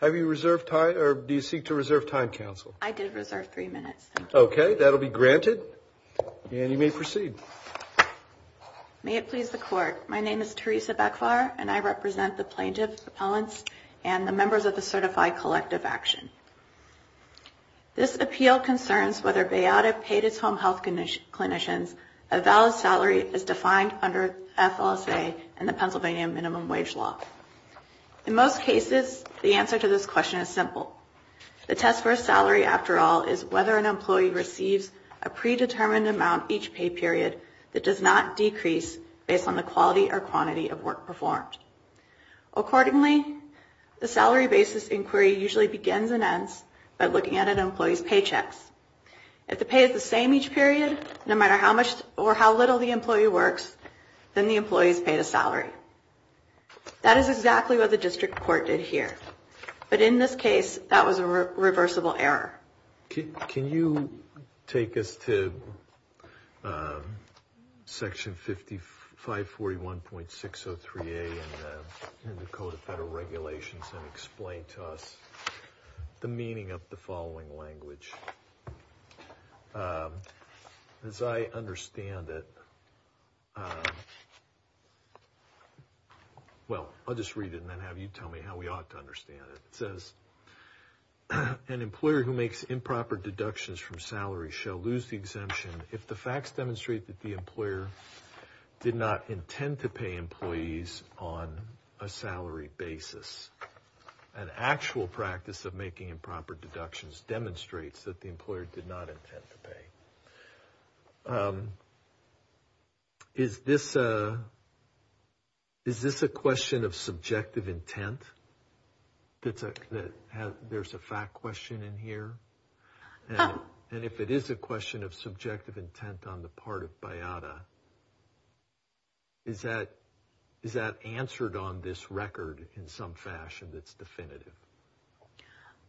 Have you reserved time, or do you seek to reserve time, Counsel? I did reserve three minutes. Okay, that'll be granted, and you may proceed. May it please the Court, my name is Teresa Bekvar, and I represent the plaintiff's appellants and the members of the Certified Collective Action. This appeal concerns whether Bayada paid its home health clinicians a valid salary as defined under FLSA and the Pennsylvania Minimum Wage Law. In most cases, the answer to this question is simple. The test for a salary, after all, is whether an employee receives a predetermined amount each pay period that does not decrease based on the quality or quantity of work performed. Accordingly, the salary basis inquiry usually begins and ends by looking at an employee's paychecks. If the pay is the same each period, no matter how much or how little the employee works, then the employee is paid a salary. That is exactly what the district court did here. But in this case, that was a reversible error. Can you take us to Section 541.603A in the Code of Federal Regulations and explain to us the meaning of the following language? As I understand it, well, I'll just read it and then have you tell me how we ought to understand it. It says, an employer who makes improper deductions from salary shall lose the exemption if the facts demonstrate that the employer did not intend to pay employees on a salary basis. An actual practice of making improper deductions demonstrates that the employer did not intend to pay. Is this a question of subjective intent? There's a fact question in here. And if it is a question of subjective intent on the part of BIATA, is that answered on this record in some fashion that's definitive?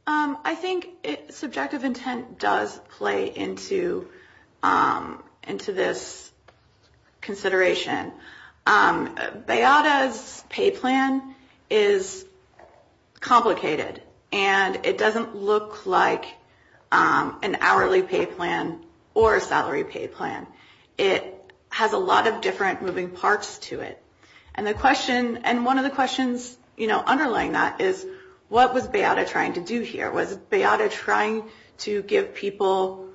I think subjective intent does play into this consideration. BIATA's pay plan is complicated, and it doesn't look like an hourly pay plan or a salary pay plan. It has a lot of different moving parts to it. And one of the questions underlying that is, what was BIATA trying to do here? Was BIATA trying to give people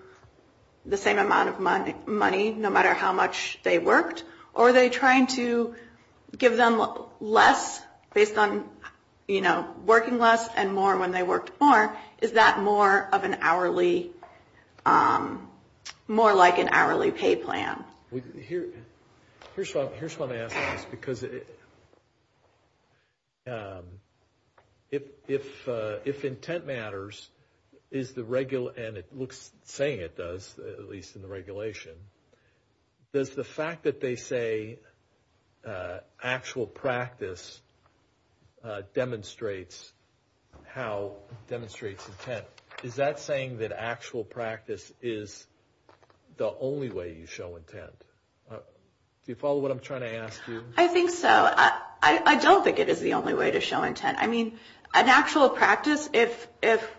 the same amount of money no matter how much they worked? Or are they trying to give them less based on working less and more when they worked more? Is that more of an hourly, more like an hourly pay plan? Here's what I'm asking is because if intent matters, and it looks saying it does, at least in the regulation, does the fact that they say actual practice demonstrates intent, is that saying that actual practice is the only way you show intent? Do you follow what I'm trying to ask you? I think so. I don't think it is the only way to show intent. An actual practice, if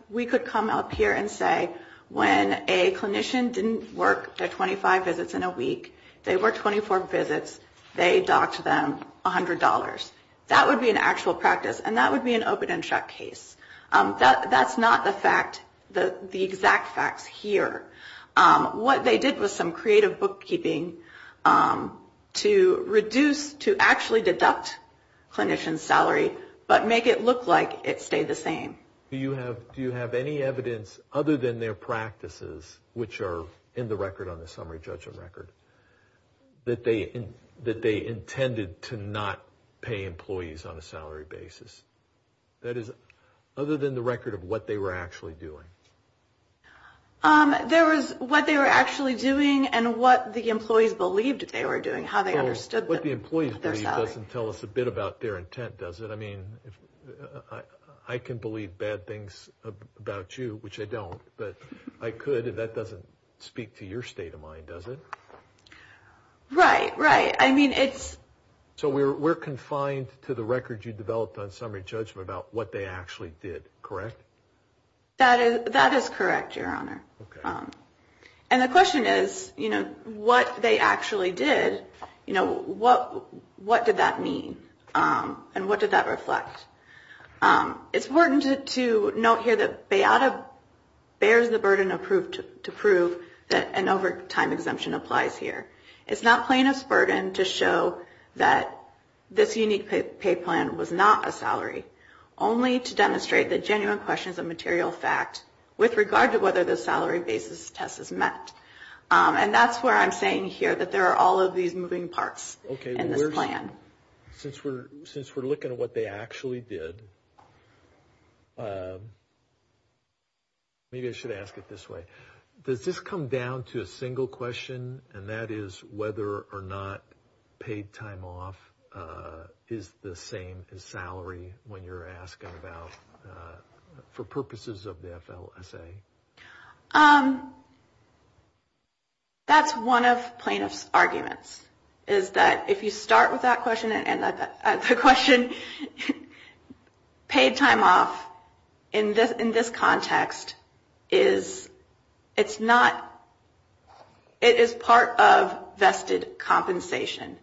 we could come up here and say when a clinician didn't work their 25 visits in a week, they worked 24 visits, they docked them $100. That would be an actual practice, and that would be an open and shut case. That's not the exact facts here. What they did was some creative bookkeeping to reduce, to actually deduct clinicians' salary, but make it look like it stayed the same. Do you have any evidence other than their practices, which are in the record on the summary judgment record, that they intended to not pay employees on a salary basis? That is, other than the record of what they were actually doing. There was what they were actually doing and what the employees believed they were doing, how they understood their salary. That doesn't tell us a bit about their intent, does it? I can believe bad things about you, which I don't, but I could. That doesn't speak to your state of mind, does it? Right, right. So we're confined to the record you developed on summary judgment about what they actually did, correct? That is correct, Your Honor. And the question is, what they actually did, what did that mean, and what did that reflect? It's important to note here that BEATA bears the burden to prove that an overtime exemption applies here. It's not plaintiff's burden to show that this unique pay plan was not a salary, only to demonstrate the genuine questions of material fact with regard to whether the salary basis test is met. And that's where I'm saying here that there are all of these moving parts in this plan. Since we're looking at what they actually did, maybe I should ask it this way. Does this come down to a single question, and that is whether or not paid time off is the same as salary when you're asking about, for purposes of the FLSA? That's one of plaintiff's arguments, is that if you start with that question, And the question, paid time off in this context is, it's not, it is part of vested compensation.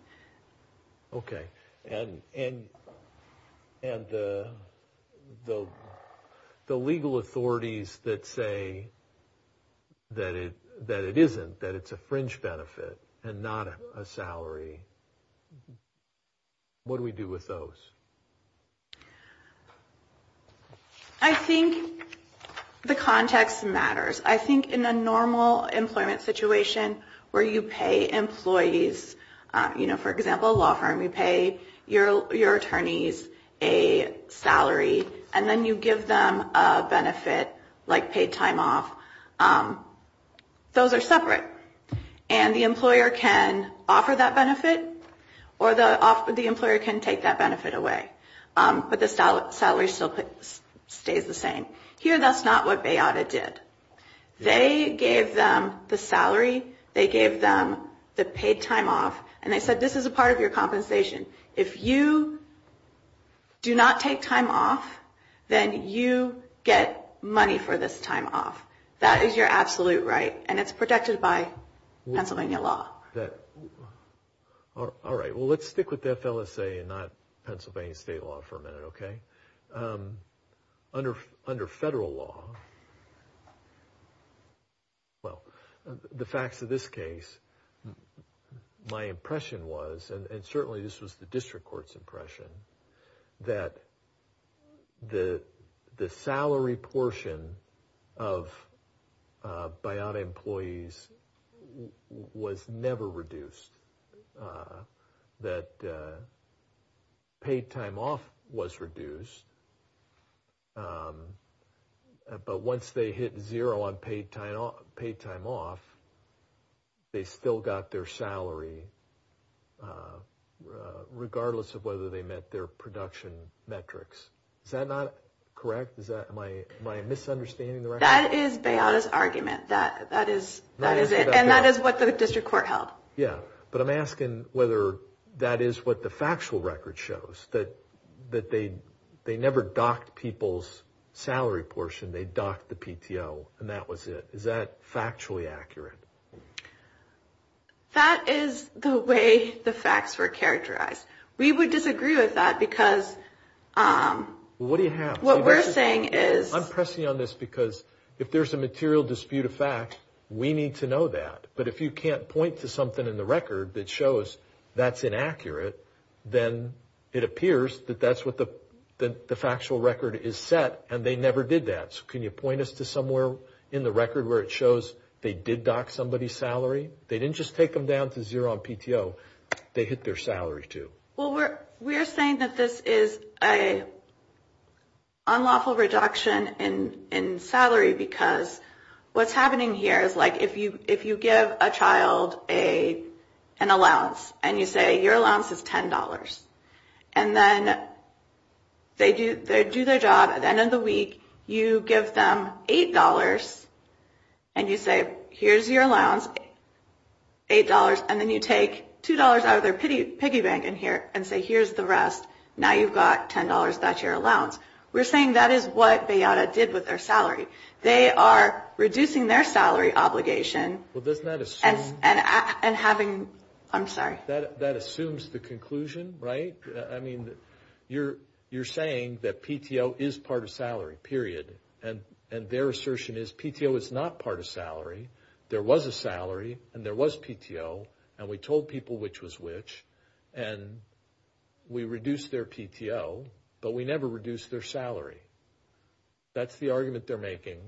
Okay, and the legal authorities that say that it isn't, that it's a fringe benefit and not a salary, what do we do with those? I think the context matters. I think in a normal employment situation where you pay employees, you know, for example, a law firm, you pay your attorneys a salary, and then you give them a benefit like paid time off. Those are separate. And the employer can offer that benefit, or the employer can take that benefit away. But the salary still stays the same. Here, that's not what Bayauda did. They gave them the salary. They gave them the paid time off, and they said, this is a part of your compensation. If you do not take time off, then you get money for this time off. That is your absolute right, and it's protected by Pennsylvania law. All right, well, let's stick with the FLSA and not Pennsylvania state law for a minute, okay? Under federal law, well, the facts of this case, my impression was, and certainly this was the district court's impression, that the salary portion of Bayauda employees was never reduced. That paid time off was reduced, but once they hit zero on paid time off, they still got their salary regardless of whether they met their production metrics. Is that not correct? Am I misunderstanding the record? That is Bayauda's argument. That is it, and that is what the district court held. Yeah, but I'm asking whether that is what the factual record shows, that they never docked people's salary portion. They docked the PTO, and that was it. Is that factually accurate? That is the way the facts were characterized. We would disagree with that because what we're saying is… I'm pressing you on this because if there's a material dispute of fact, we need to know that, but if you can't point to something in the record that shows that's inaccurate, then it appears that that's what the factual record is set, and they never did that. So can you point us to somewhere in the record where it shows they did dock somebody's salary? They didn't just take them down to zero on PTO. They hit their salary, too. Well, we're saying that this is an unlawful reduction in salary because what's happening here is if you give a child an allowance and you say your allowance is $10, and then they do their job. At the end of the week, you give them $8, and you say here's your allowance, $8, and then you take $2 out of their piggy bank and say here's the rest. Now you've got $10. That's your allowance. We're saying that is what BEATA did with their salary. They are reducing their salary obligation and having – I'm sorry. That assumes the conclusion, right? I mean, you're saying that PTO is part of salary, period, and their assertion is PTO is not part of salary. There was a salary, and there was PTO, and we told people which was which, and we reduced their PTO, but we never reduced their salary. That's the argument they're making,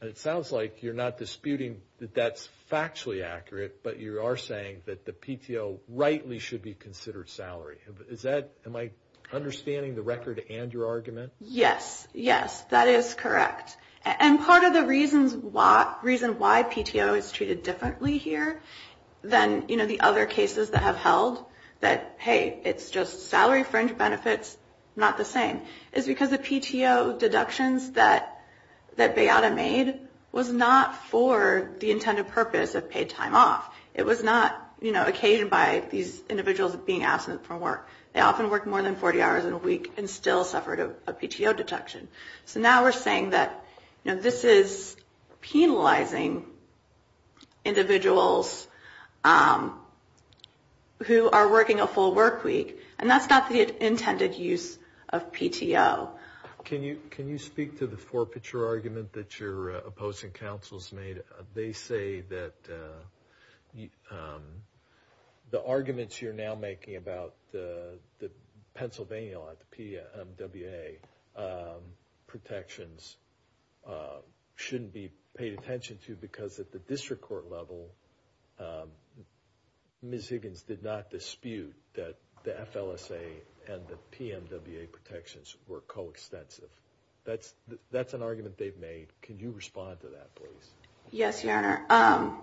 and it sounds like you're not disputing that that's factually accurate, but you are saying that the PTO rightly should be considered salary. Am I understanding the record and your argument? Yes, yes, that is correct, and part of the reason why PTO is treated differently here than the other cases that have held that, hey, it's just salary fringe benefits, not the same, is because the PTO deductions that BEATA made was not for the intended purpose of paid time off. It was not occasioned by these individuals being absent from work. They often worked more than 40 hours in a week and still suffered a PTO deduction. So now we're saying that this is penalizing individuals who are working a full work week, and that's not the intended use of PTO. Can you speak to the four-picture argument that your opposing counsels made? They say that the arguments you're now making about the Pennsylvania law, the PMWA protections, shouldn't be paid attention to because at the district court level Ms. Higgins did not dispute that the FLSA and the PMWA protections were coextensive. That's an argument they've made. Can you respond to that, please? Yes, Your Honor.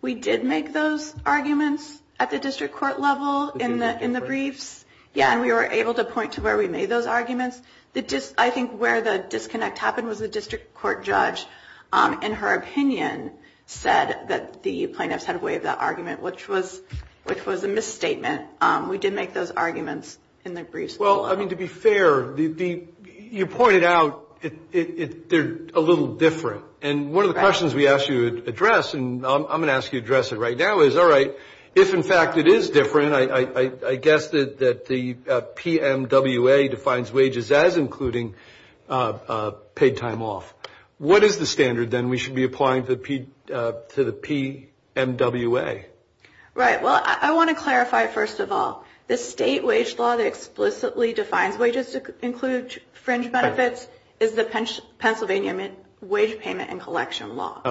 We did make those arguments at the district court level in the briefs, and we were able to point to where we made those arguments. I think where the disconnect happened was the district court judge, in her opinion, said that the plaintiffs had waived that argument, which was a misstatement. We did make those arguments in the briefs. Well, I mean, to be fair, you pointed out they're a little different. And one of the questions we asked you to address, and I'm going to ask you to address it right now, is, all right, if in fact it is different, I guess that the PMWA defines wages as including paid time off. What is the standard, then, we should be applying to the PMWA? Right. Well, I want to clarify, first of all, the state wage law that explicitly defines wages to include fringe benefits is the Pennsylvania Wage Payment and Collection Law,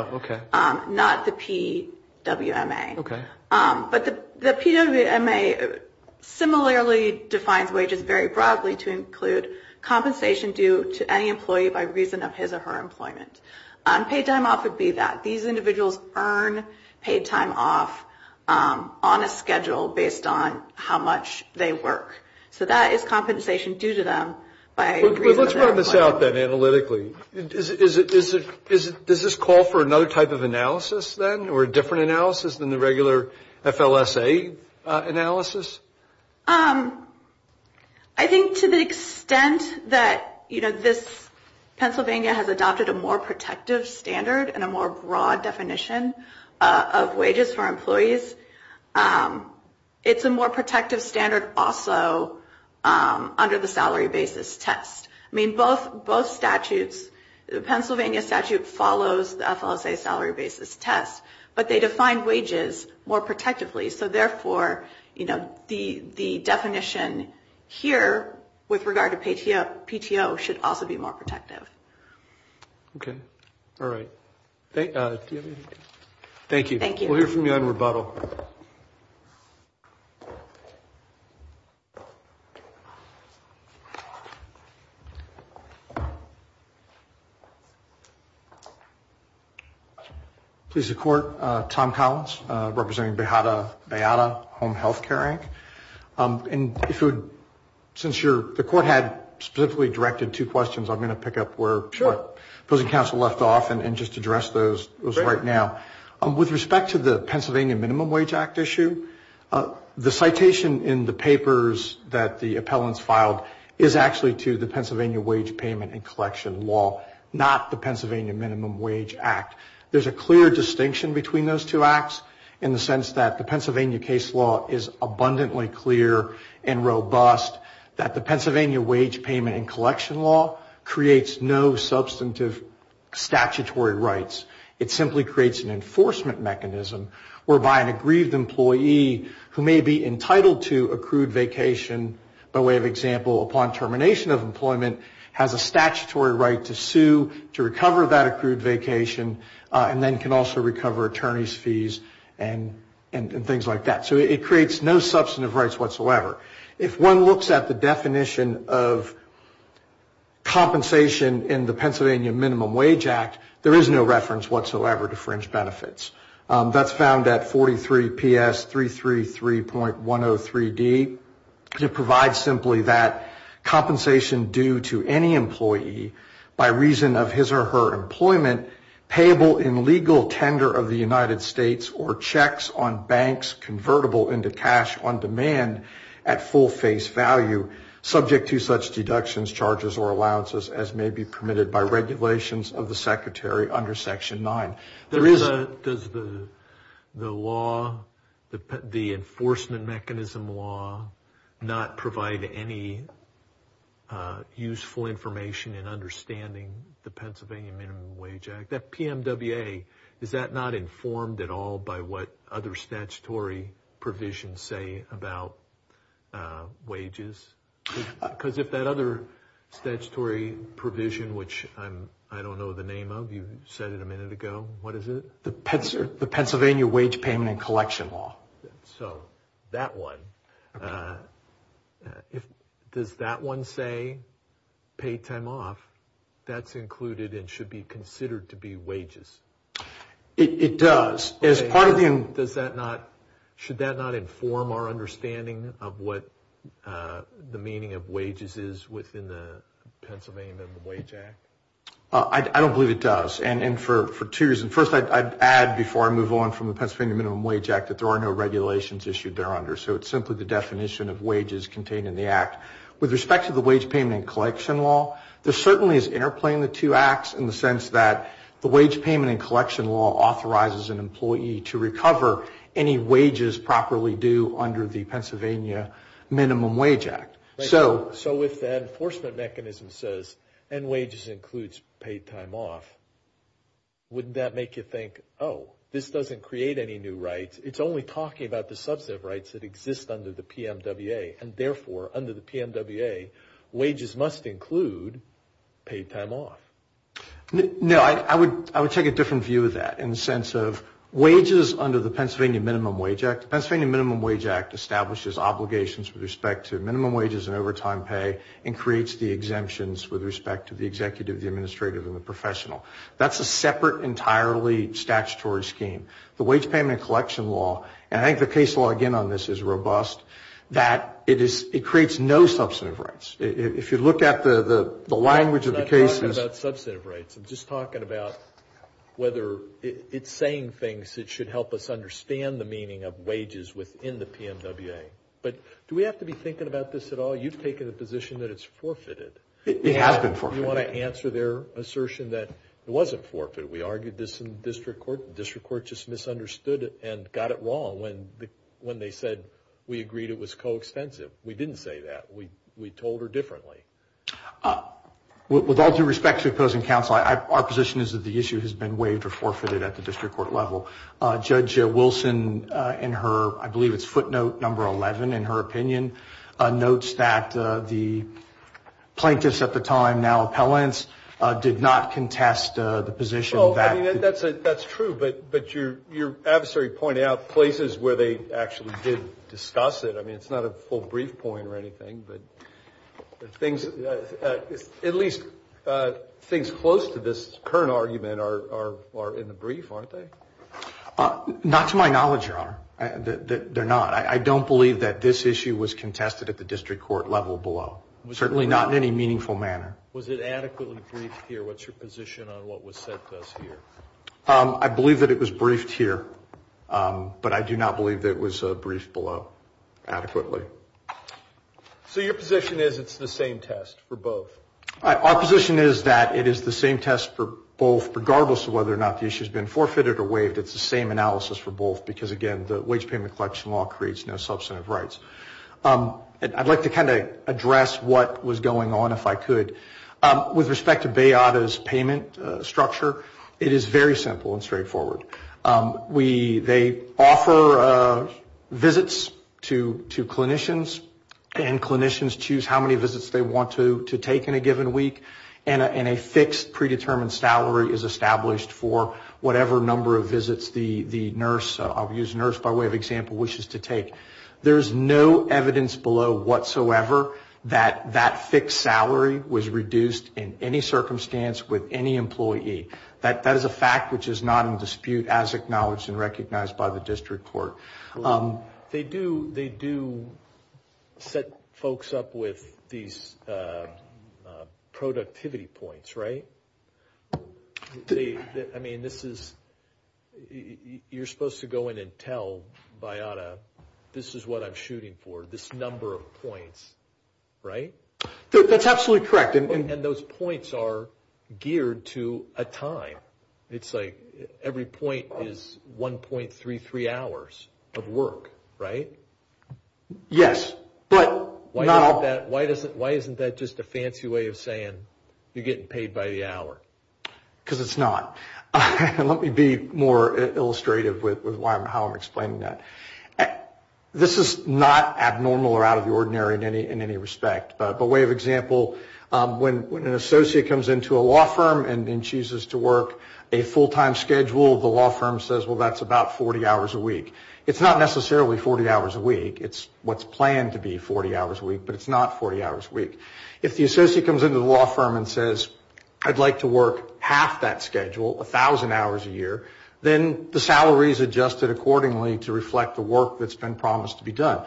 not the PWMA. But the PWMA similarly defines wages very broadly to include compensation due to any employee by reason of his or her employment. Paid time off would be that. on a schedule based on how much they work. So that is compensation due to them by reason of their employment. But let's run this out, then, analytically. Does this call for another type of analysis, then, or a different analysis than the regular FLSA analysis? I think to the extent that, you know, this Pennsylvania has adopted a more protective standard and a more broad definition of wages for employees, it's a more protective standard also under the salary basis test. I mean, both statutes, the Pennsylvania statute follows the FLSA salary basis test, but they define wages more protectively. So therefore, you know, the definition here with regard to PTO should also be more protective. Okay. All right. Thank you. Thank you. We'll hear from you on rebuttal. Please, the Court. Tom Collins, representing Bayada Home Health Care, Inc. And since the Court had specifically directed two questions, I'm going to pick up where the opposing counsel left off and just address those right now. With respect to the Pennsylvania Minimum Wage Act issue, the citation in the papers that the appellants filed is actually to the Pennsylvania wage payment and collection law, not the Pennsylvania Minimum Wage Act. There's a clear distinction between those two acts in the sense that the Pennsylvania case law is abundantly clear and robust that the Pennsylvania wage payment and collection law creates no substantive statutory rights. It simply creates an enforcement mechanism whereby an aggrieved employee, who may be entitled to accrued vacation by way of example upon termination of employment, has a statutory right to sue to recover that accrued vacation and then can also recover attorney's fees and things like that. So it creates no substantive rights whatsoever. If one looks at the definition of compensation in the Pennsylvania Minimum Wage Act, there is no reference whatsoever to fringe benefits. That's found at 43PS333.103D. It provides simply that compensation due to any employee by reason of his or her employment payable in legal tender of the United States or checks on banks convertible into cash on demand at full face value subject to such deductions, charges, or allowances as may be permitted by regulations of the secretary under Section 9. Does the law, the enforcement mechanism law, not provide any useful information in understanding the Pennsylvania Minimum Wage Act? That PMWA, is that not informed at all by what other statutory provisions say about wages? Because if that other statutory provision, which I don't know the name of, you said it a minute ago, what is it? The Pennsylvania Wage Payment and Collection Law. So that one, does that one say pay time off? That's included and should be considered to be wages. It does. As part of the... Does that not, should that not inform our understanding of what the meaning of wages is within the Pennsylvania Minimum Wage Act? I don't believe it does. And for two reasons. First, I'd add before I move on from the Pennsylvania Minimum Wage Act that there are no regulations issued there under. So it's simply the definition of wages contained in the act. With respect to the Wage Payment and Collection Law, there certainly is interplay in the two acts in the sense that the Wage Payment and Collection Law authorizes an employee to recover any wages properly due under the Pennsylvania Minimum Wage Act. So if the enforcement mechanism says end wages includes paid time off, wouldn't that make you think, oh, this doesn't create any new rights. It's only talking about the substantive rights that exist under the PMWA. And therefore, under the PMWA, wages must include paid time off. No, I would take a different view of that in the sense of wages under the Pennsylvania Minimum Wage Act. The Pennsylvania Minimum Wage Act establishes obligations with respect to minimum wages and overtime pay and creates the exemptions with respect to the executive, the administrative, and the professional. That's a separate entirely statutory scheme. The Wage Payment and Collection Law, and I think the case law, again, on this is robust, that it creates no substantive rights. If you look at the language of the cases. I'm not talking about substantive rights. I'm just talking about whether it's saying things that should help us understand the meaning of wages within the PMWA. But do we have to be thinking about this at all? You've taken the position that it's forfeited. It has been forfeited. You want to answer their assertion that it wasn't forfeited. We argued this in district court. District court just misunderstood it and got it wrong when they said we agreed it was coextensive. We didn't say that. We told her differently. With all due respect to opposing counsel, our position is that the issue has been waived or forfeited at the district court level. Judge Wilson, in her, I believe it's footnote number 11, in her opinion, notes that the plaintiffs at the time, now appellants, did not contest the position that. That's true, but your adversary pointed out places where they actually did discuss it. I mean, it's not a full brief point or anything, but at least things close to this current argument are in the brief, aren't they? Not to my knowledge, Your Honor. They're not. I don't believe that this issue was contested at the district court level below, certainly not in any meaningful manner. Was it adequately briefed here? What's your position on what was said to us here? I believe that it was briefed here, but I do not believe that it was briefed below adequately. So your position is it's the same test for both? Our position is that it is the same test for both, regardless of whether or not the issue has been forfeited or waived. It's the same analysis for both because, again, the wage payment collection law creates no substantive rights. I'd like to kind of address what was going on, if I could. With respect to Bayauda's payment structure, it is very simple and straightforward. They offer visits to clinicians, and clinicians choose how many visits they want to take in a given week, and a fixed predetermined salary is established for whatever number of visits the nurse, I'll use nurse by way of example, wishes to take. There's no evidence below whatsoever that that fixed salary was reduced in any circumstance with any employee. That is a fact which is not in dispute as acknowledged and recognized by the district court. They do set folks up with these productivity points, right? I mean, this is, you're supposed to go in and tell Bayauda, this is what I'm shooting for, this number of points, right? That's absolutely correct. And those points are geared to a time. It's like every point is 1.33 hours of work, right? Yes, but not all. Why isn't that just a fancy way of saying you're getting paid by the hour? Because it's not. Let me be more illustrative with how I'm explaining that. This is not abnormal or out of the ordinary in any respect, but by way of example, when an associate comes into a law firm and then chooses to work a full-time schedule, the law firm says, well, that's about 40 hours a week. It's not necessarily 40 hours a week. It's what's planned to be 40 hours a week, but it's not 40 hours a week. If the associate comes into the law firm and says, I'd like to work half that schedule, 1,000 hours a year, then the salary is adjusted accordingly to reflect the work that's been promised to be done.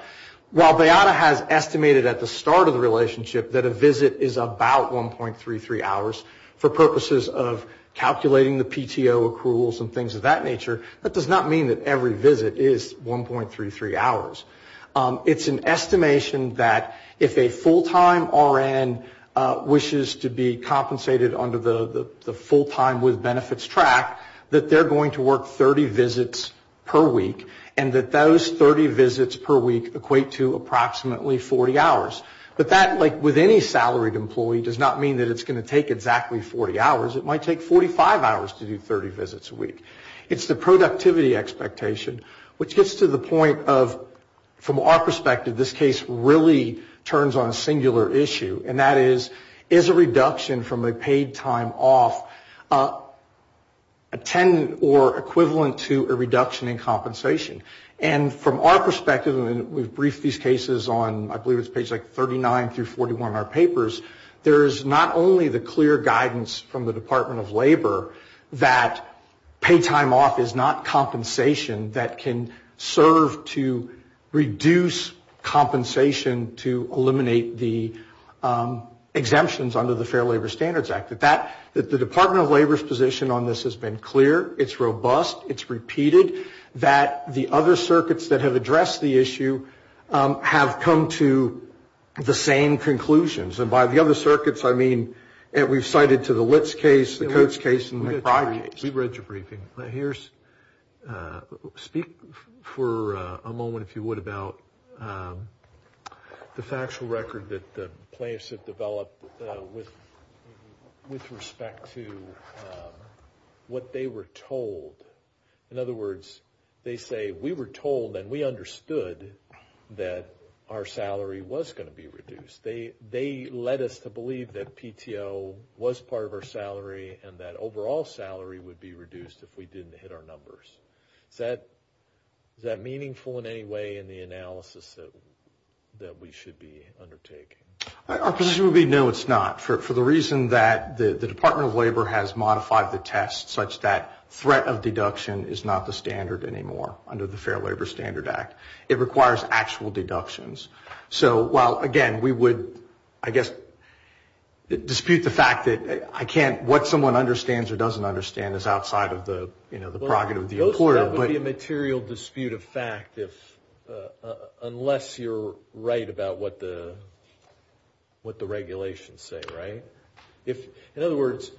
While Bayauda has estimated at the start of the relationship that a visit is about 1.33 hours for purposes of calculating the PTO accruals and things of that nature, that does not mean that every visit is 1.33 hours. It's an estimation that if a full-time RN wishes to be compensated under the full-time with benefits track, that they're going to work 30 visits per week and that those 30 visits per week equate to approximately 40 hours. But that, like with any salaried employee, does not mean that it's going to take exactly 40 hours. It might take 45 hours to do 30 visits a week. It's the productivity expectation, which gets to the point of, from our perspective, this case really turns on a singular issue. And that is, is a reduction from a paid time off a 10 or equivalent to a reduction in compensation? And from our perspective, and we've briefed these cases on, I believe it's page 39 through 41 in our papers, there is not only the clear guidance from the Department of Labor that paid time off is not compensation that can serve to reduce compensation to eliminate the exemptions under the Fair Labor Standards Act. The Department of Labor's position on this has been clear. It's robust. It's repeated. That the other circuits that have addressed the issue have come to the same conclusions. And by the other circuits, I mean we've cited to the Litz case, the Coates case, and the Frye case. We read your briefing. Speak for a moment, if you would, about the factual record that the plaintiffs have developed with respect to what they were told. In other words, they say, we were told and we understood that our salary was going to be reduced. They led us to believe that PTO was part of our salary and that overall salary would be reduced if we didn't hit our numbers. Is that meaningful in any way in the analysis that we should be undertaking? Our position would be, no, it's not. For the reason that the Department of Labor has modified the test such that threat of deduction is not the standard anymore under the Fair Labor Standard Act. It requires actual deductions. So while, again, we would, I guess, dispute the fact that what someone understands or doesn't understand is outside of the prerogative of the employer. That would be a material dispute of fact unless you're right about what the regulations say, right? In other words,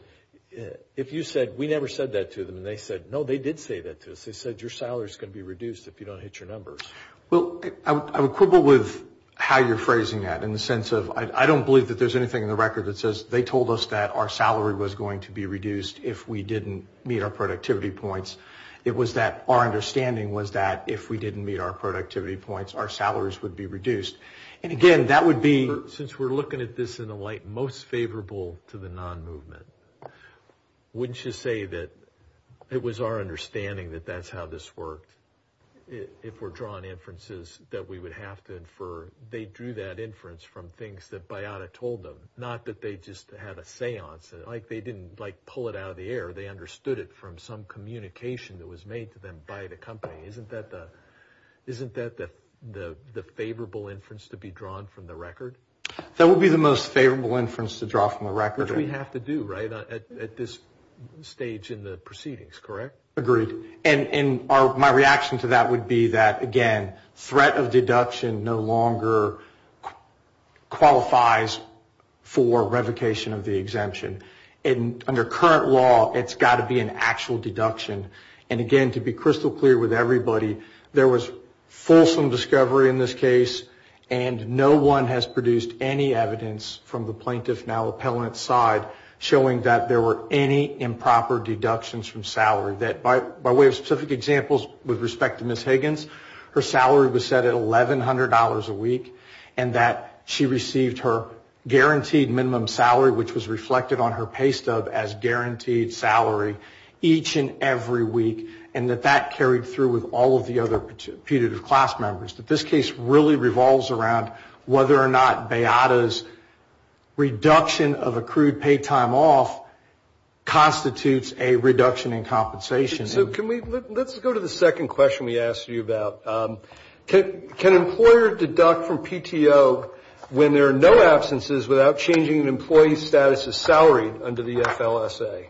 if you said, we never said that to them, and they said, no, they did say that to us. They said, your salary is going to be reduced if you don't hit your numbers. Well, I would quibble with how you're phrasing that in the sense of I don't believe that there's anything in the record that says they told us that our salary was going to be reduced if we didn't meet our productivity points. It was that our understanding was that if we didn't meet our productivity points, our salaries would be reduced. And, again, that would be... Since we're looking at this in a light most favorable to the non-movement, wouldn't you say that it was our understanding that that's how this worked? If we're drawing inferences that we would have to infer, they drew that inference from things that Bayada told them, not that they just had a seance. Like, they didn't, like, pull it out of the air. They understood it from some communication that was made to them by the company. Isn't that the favorable inference to be drawn from the record? That would be the most favorable inference to draw from the record. Which we have to do, right, at this stage in the proceedings, correct? Agreed. And my reaction to that would be that, again, threat of deduction no longer qualifies for revocation of the exemption. And under current law, it's got to be an actual deduction. And, again, to be crystal clear with everybody, there was fulsome discovery in this case, and no one has produced any evidence from the plaintiff, now appellant's side, showing that there were any improper deductions from salary. That by way of specific examples, with respect to Ms. Higgins, her salary was set at $1,100 a week, and that she received her guaranteed minimum salary, which was reflected on her pay stub as guaranteed salary, each and every week, and that that carried through with all of the other putative class members. But this case really revolves around whether or not BEATA's reduction of accrued paid time off constitutes a reduction in compensation. So let's go to the second question we asked you about. Can an employer deduct from PTO when there are no absences without changing an employee's status as salaried under the FLSA?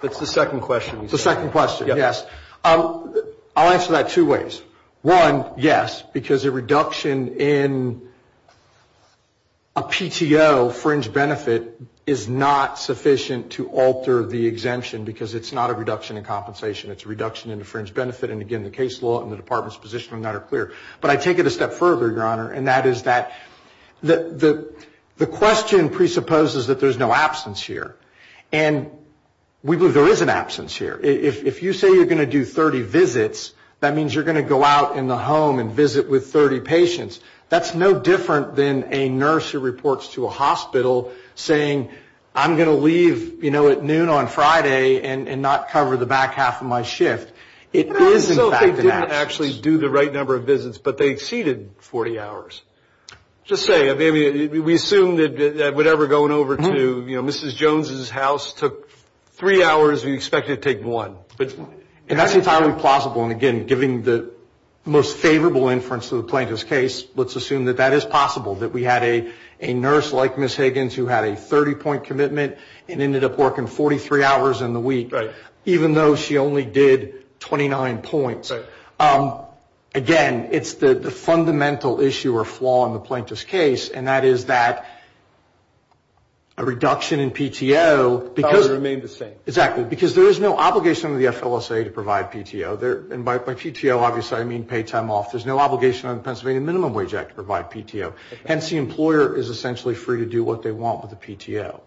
That's the second question. The second question, yes. I'll answer that two ways. One, yes, because a reduction in a PTO fringe benefit is not sufficient to alter the exemption, because it's not a reduction in compensation. It's a reduction in the fringe benefit, and, again, the case law and the Department's position on that are clear. But I take it a step further, Your Honor, and that is that the question presupposes that there's no absence here, and we believe there is an absence here. If you say you're going to do 30 visits, that means you're going to go out in the home and visit with 30 patients. That's no different than a nurse who reports to a hospital saying, I'm going to leave, you know, at noon on Friday and not cover the back half of my shift. It is, in fact, an absence. But what if they didn't actually do the right number of visits, but they exceeded 40 hours? Just saying, I mean, we assume that whatever going over to, you know, Mrs. Jones' house took three hours, we expect it to take one. And that's entirely plausible, and, again, giving the most favorable inference to the plaintiff's case, let's assume that that is possible, that we had a nurse like Ms. Higgins who had a 30-point commitment and ended up working 43 hours in the week, even though she only did 29 points. Again, it's the fundamental issue or flaw in the plaintiff's case, and that is that a reduction in PTO because there is no obligation on the FLSA to provide PTO. And by PTO, obviously, I mean paid time off. There's no obligation on the Pennsylvania Minimum Wage Act to provide PTO. Hence, the employer is essentially free to do what they want with the PTO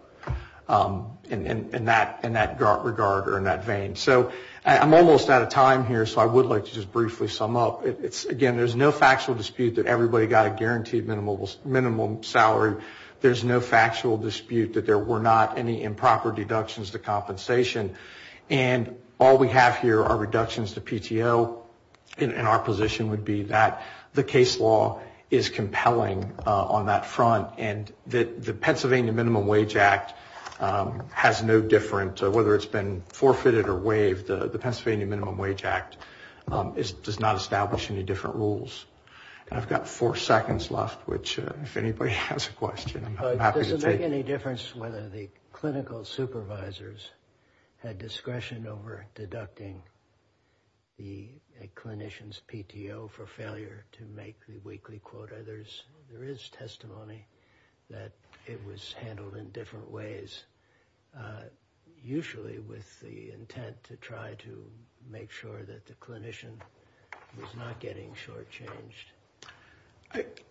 in that regard or in that vein. So I'm almost out of time here, so I would like to just briefly sum up. Again, there's no factual dispute that everybody got a guaranteed minimum salary. There's no factual dispute that there were not any improper deductions to compensation. And all we have here are reductions to PTO, and our position would be that the case law is compelling on that front and that the Pennsylvania Minimum Wage Act has no different, whether it's been forfeited or waived, the Pennsylvania Minimum Wage Act does not establish any different rules. I've got four seconds left, which if anybody has a question, I'm happy to take it. Does it make any difference whether the clinical supervisors had discretion over deducting a clinician's PTO for failure to make the weekly quota? There is testimony that it was handled in different ways, usually with the intent to try to make sure that the clinician was not getting shortchanged.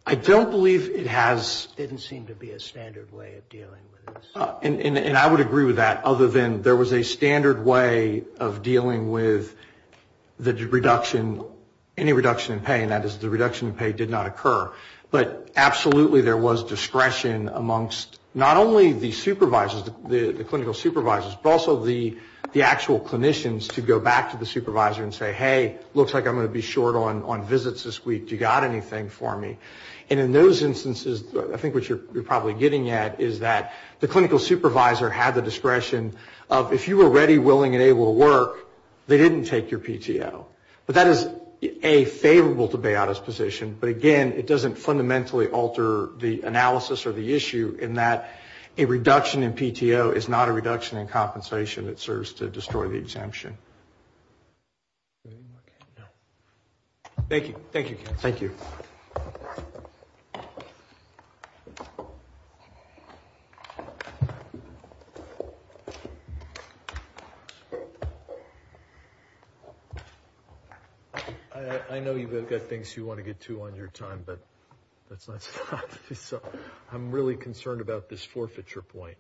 I don't believe it has. It didn't seem to be a standard way of dealing with this. And I would agree with that, other than there was a standard way of dealing with the reduction, any reduction in pay, and that is the reduction in pay did not occur. But absolutely there was discretion amongst not only the supervisors, the clinical supervisors, but also the actual clinicians to go back to the supervisor and say, hey, looks like I'm going to be short on visits this week. Do you got anything for me? And in those instances, I think what you're probably getting at is that the clinical supervisor had the discretion of, if you were ready, willing and able to work, they didn't take your PTO. But that is, A, favorable to Bayauda's position, but, again, it doesn't fundamentally alter the analysis or the issue in that a reduction in PTO is not a reduction in compensation. It serves to destroy the exemption. Thank you. Thank you. I know you've got things you want to get to on your time, but I'm really concerned about this forfeiture point.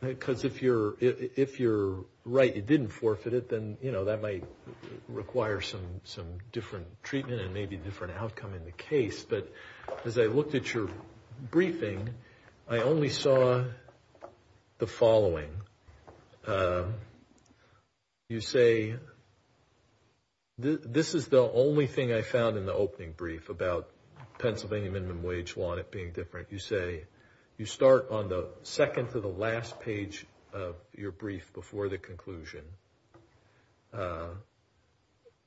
Because if you're right, you didn't forfeit it, then, you know, that might require some different treatment and maybe a different outcome in the case. But as I looked at your briefing, I only saw the following. You say, this is the only thing I found in the opening brief about Pennsylvania minimum wage, and I just want it being different. You say, you start on the second to the last page of your brief before the conclusion,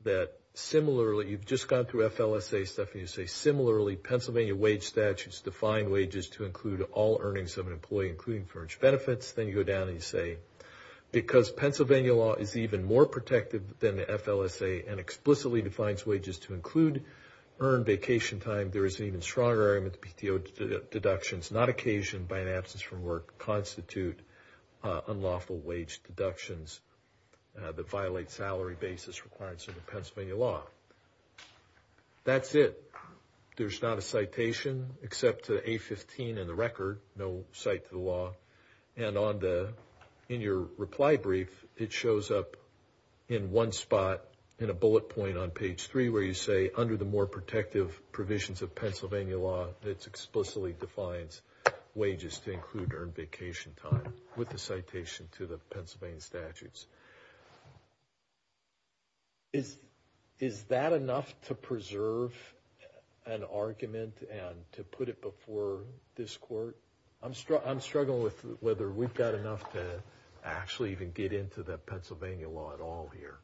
that similarly, you've just gone through FLSA stuff, and you say, similarly, Pennsylvania wage statutes define wages to include all earnings of an employee, including furnished benefits. Then you go down and you say, because Pennsylvania law is even more protective than the FLSA and explicitly defines wages to include earned vacation time, there is an even stronger argument that PTO deductions not occasioned by an absence from work constitute unlawful wage deductions that violate salary basis requirements of the Pennsylvania law. That's it. There's not a citation except to A-15 in the record, no cite to the law. And in your reply brief, it shows up in one spot, in a bullet point on page three, where you say, under the more protective provisions of Pennsylvania law, it explicitly defines wages to include earned vacation time with a citation to the Pennsylvania statutes. Is that enough to preserve an argument and to put it before this court? I'm struggling with whether we've got enough to actually even get into the Pennsylvania law at all here.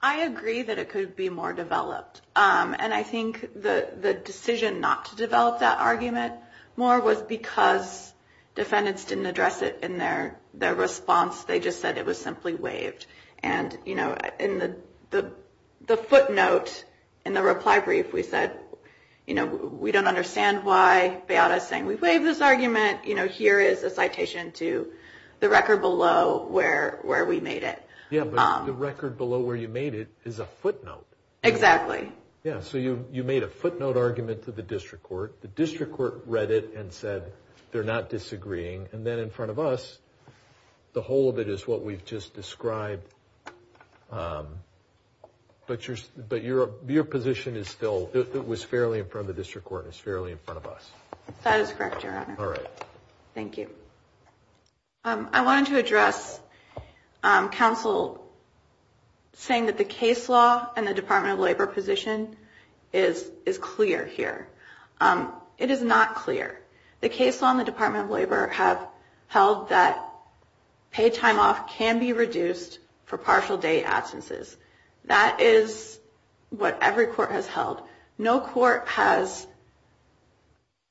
I agree that it could be more developed. And I think the decision not to develop that argument more was because defendants didn't address it in their response. They just said it was simply waived. And, you know, in the footnote in the reply brief, we said, you know, we don't understand why Beata is saying we waived this argument. You know, here is a citation to the record below where we made it. Yeah, but the record below where you made it is a footnote. Exactly. Yeah, so you made a footnote argument to the district court. The district court read it and said they're not disagreeing. And then in front of us, the whole of it is what we've just described. But your position is still, it was fairly in front of the district court and it's fairly in front of us. That is correct, Your Honor. All right. Thank you. I wanted to address counsel saying that the case law and the Department of Labor position is clear here. It is not clear. The case law and the Department of Labor have held that pay time off can be reduced for partial day absences. That is what every court has held. No court has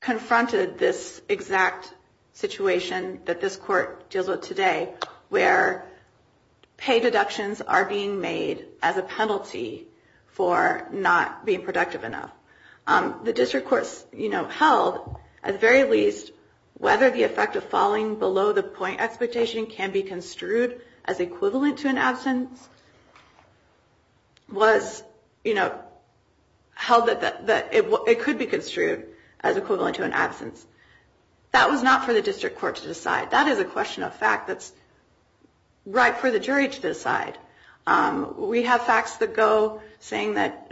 confronted this exact situation that this court deals with today, where pay deductions are being made as a penalty for not being productive enough. The district courts held, at the very least, whether the effect of falling below the point expectation can be construed as equivalent to an absence, was held that it could be construed as equivalent to an absence. That was not for the district court to decide. That is a question of fact that's right for the jury to decide. We have facts that go saying that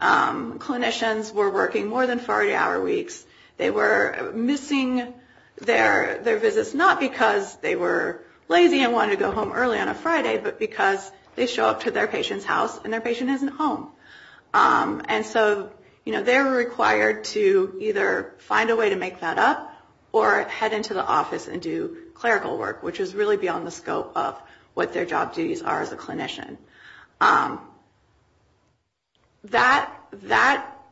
clinicians were working more than 40-hour weeks. They were missing their visits not because they were lazy and wanted to go home early on a Friday, but because they show up to their patient's house and their patient isn't home. And so they were required to either find a way to make that up or head into the office and do clerical work, which is really beyond the scope of what their job duties are as a clinician. That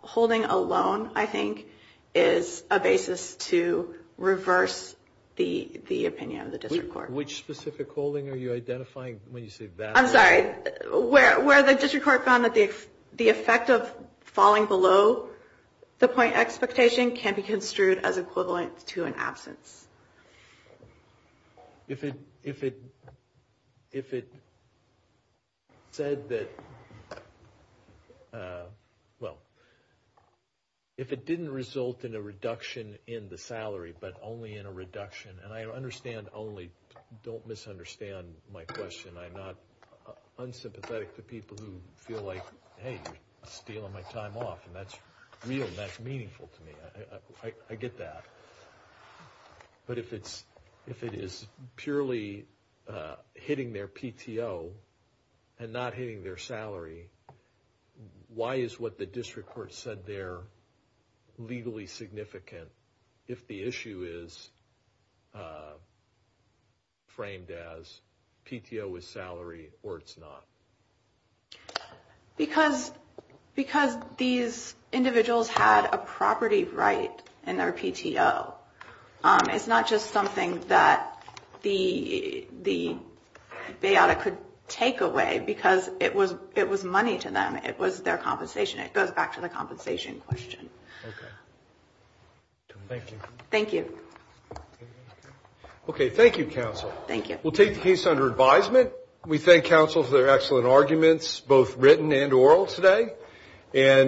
holding alone, I think, is a basis to reverse the opinion of the district court. Which specific holding are you identifying when you say that? I'm sorry. Where the district court found that the effect of falling below the point expectation can be construed as equivalent to an absence. If it said that, well, if it didn't result in a reduction in the salary, but only in a reduction, and I understand only, don't misunderstand my question. I'm not unsympathetic to people who feel like, hey, you're stealing my time off. And that's real and that's meaningful to me. I get that. But if it is purely hitting their PTO and not hitting their salary, why is what the district court said there legally significant if the issue is framed as PTO is salary or it's not? Because these individuals had a property right in their PTO. It's not just something that the bay audit could take away because it was money to them. It was their compensation. It goes back to the compensation question. Okay. Thank you. Thank you. Okay. Thank you, counsel. Thank you. We'll take the case under advisement. We thank counsel for their excellent arguments, both written and oral today.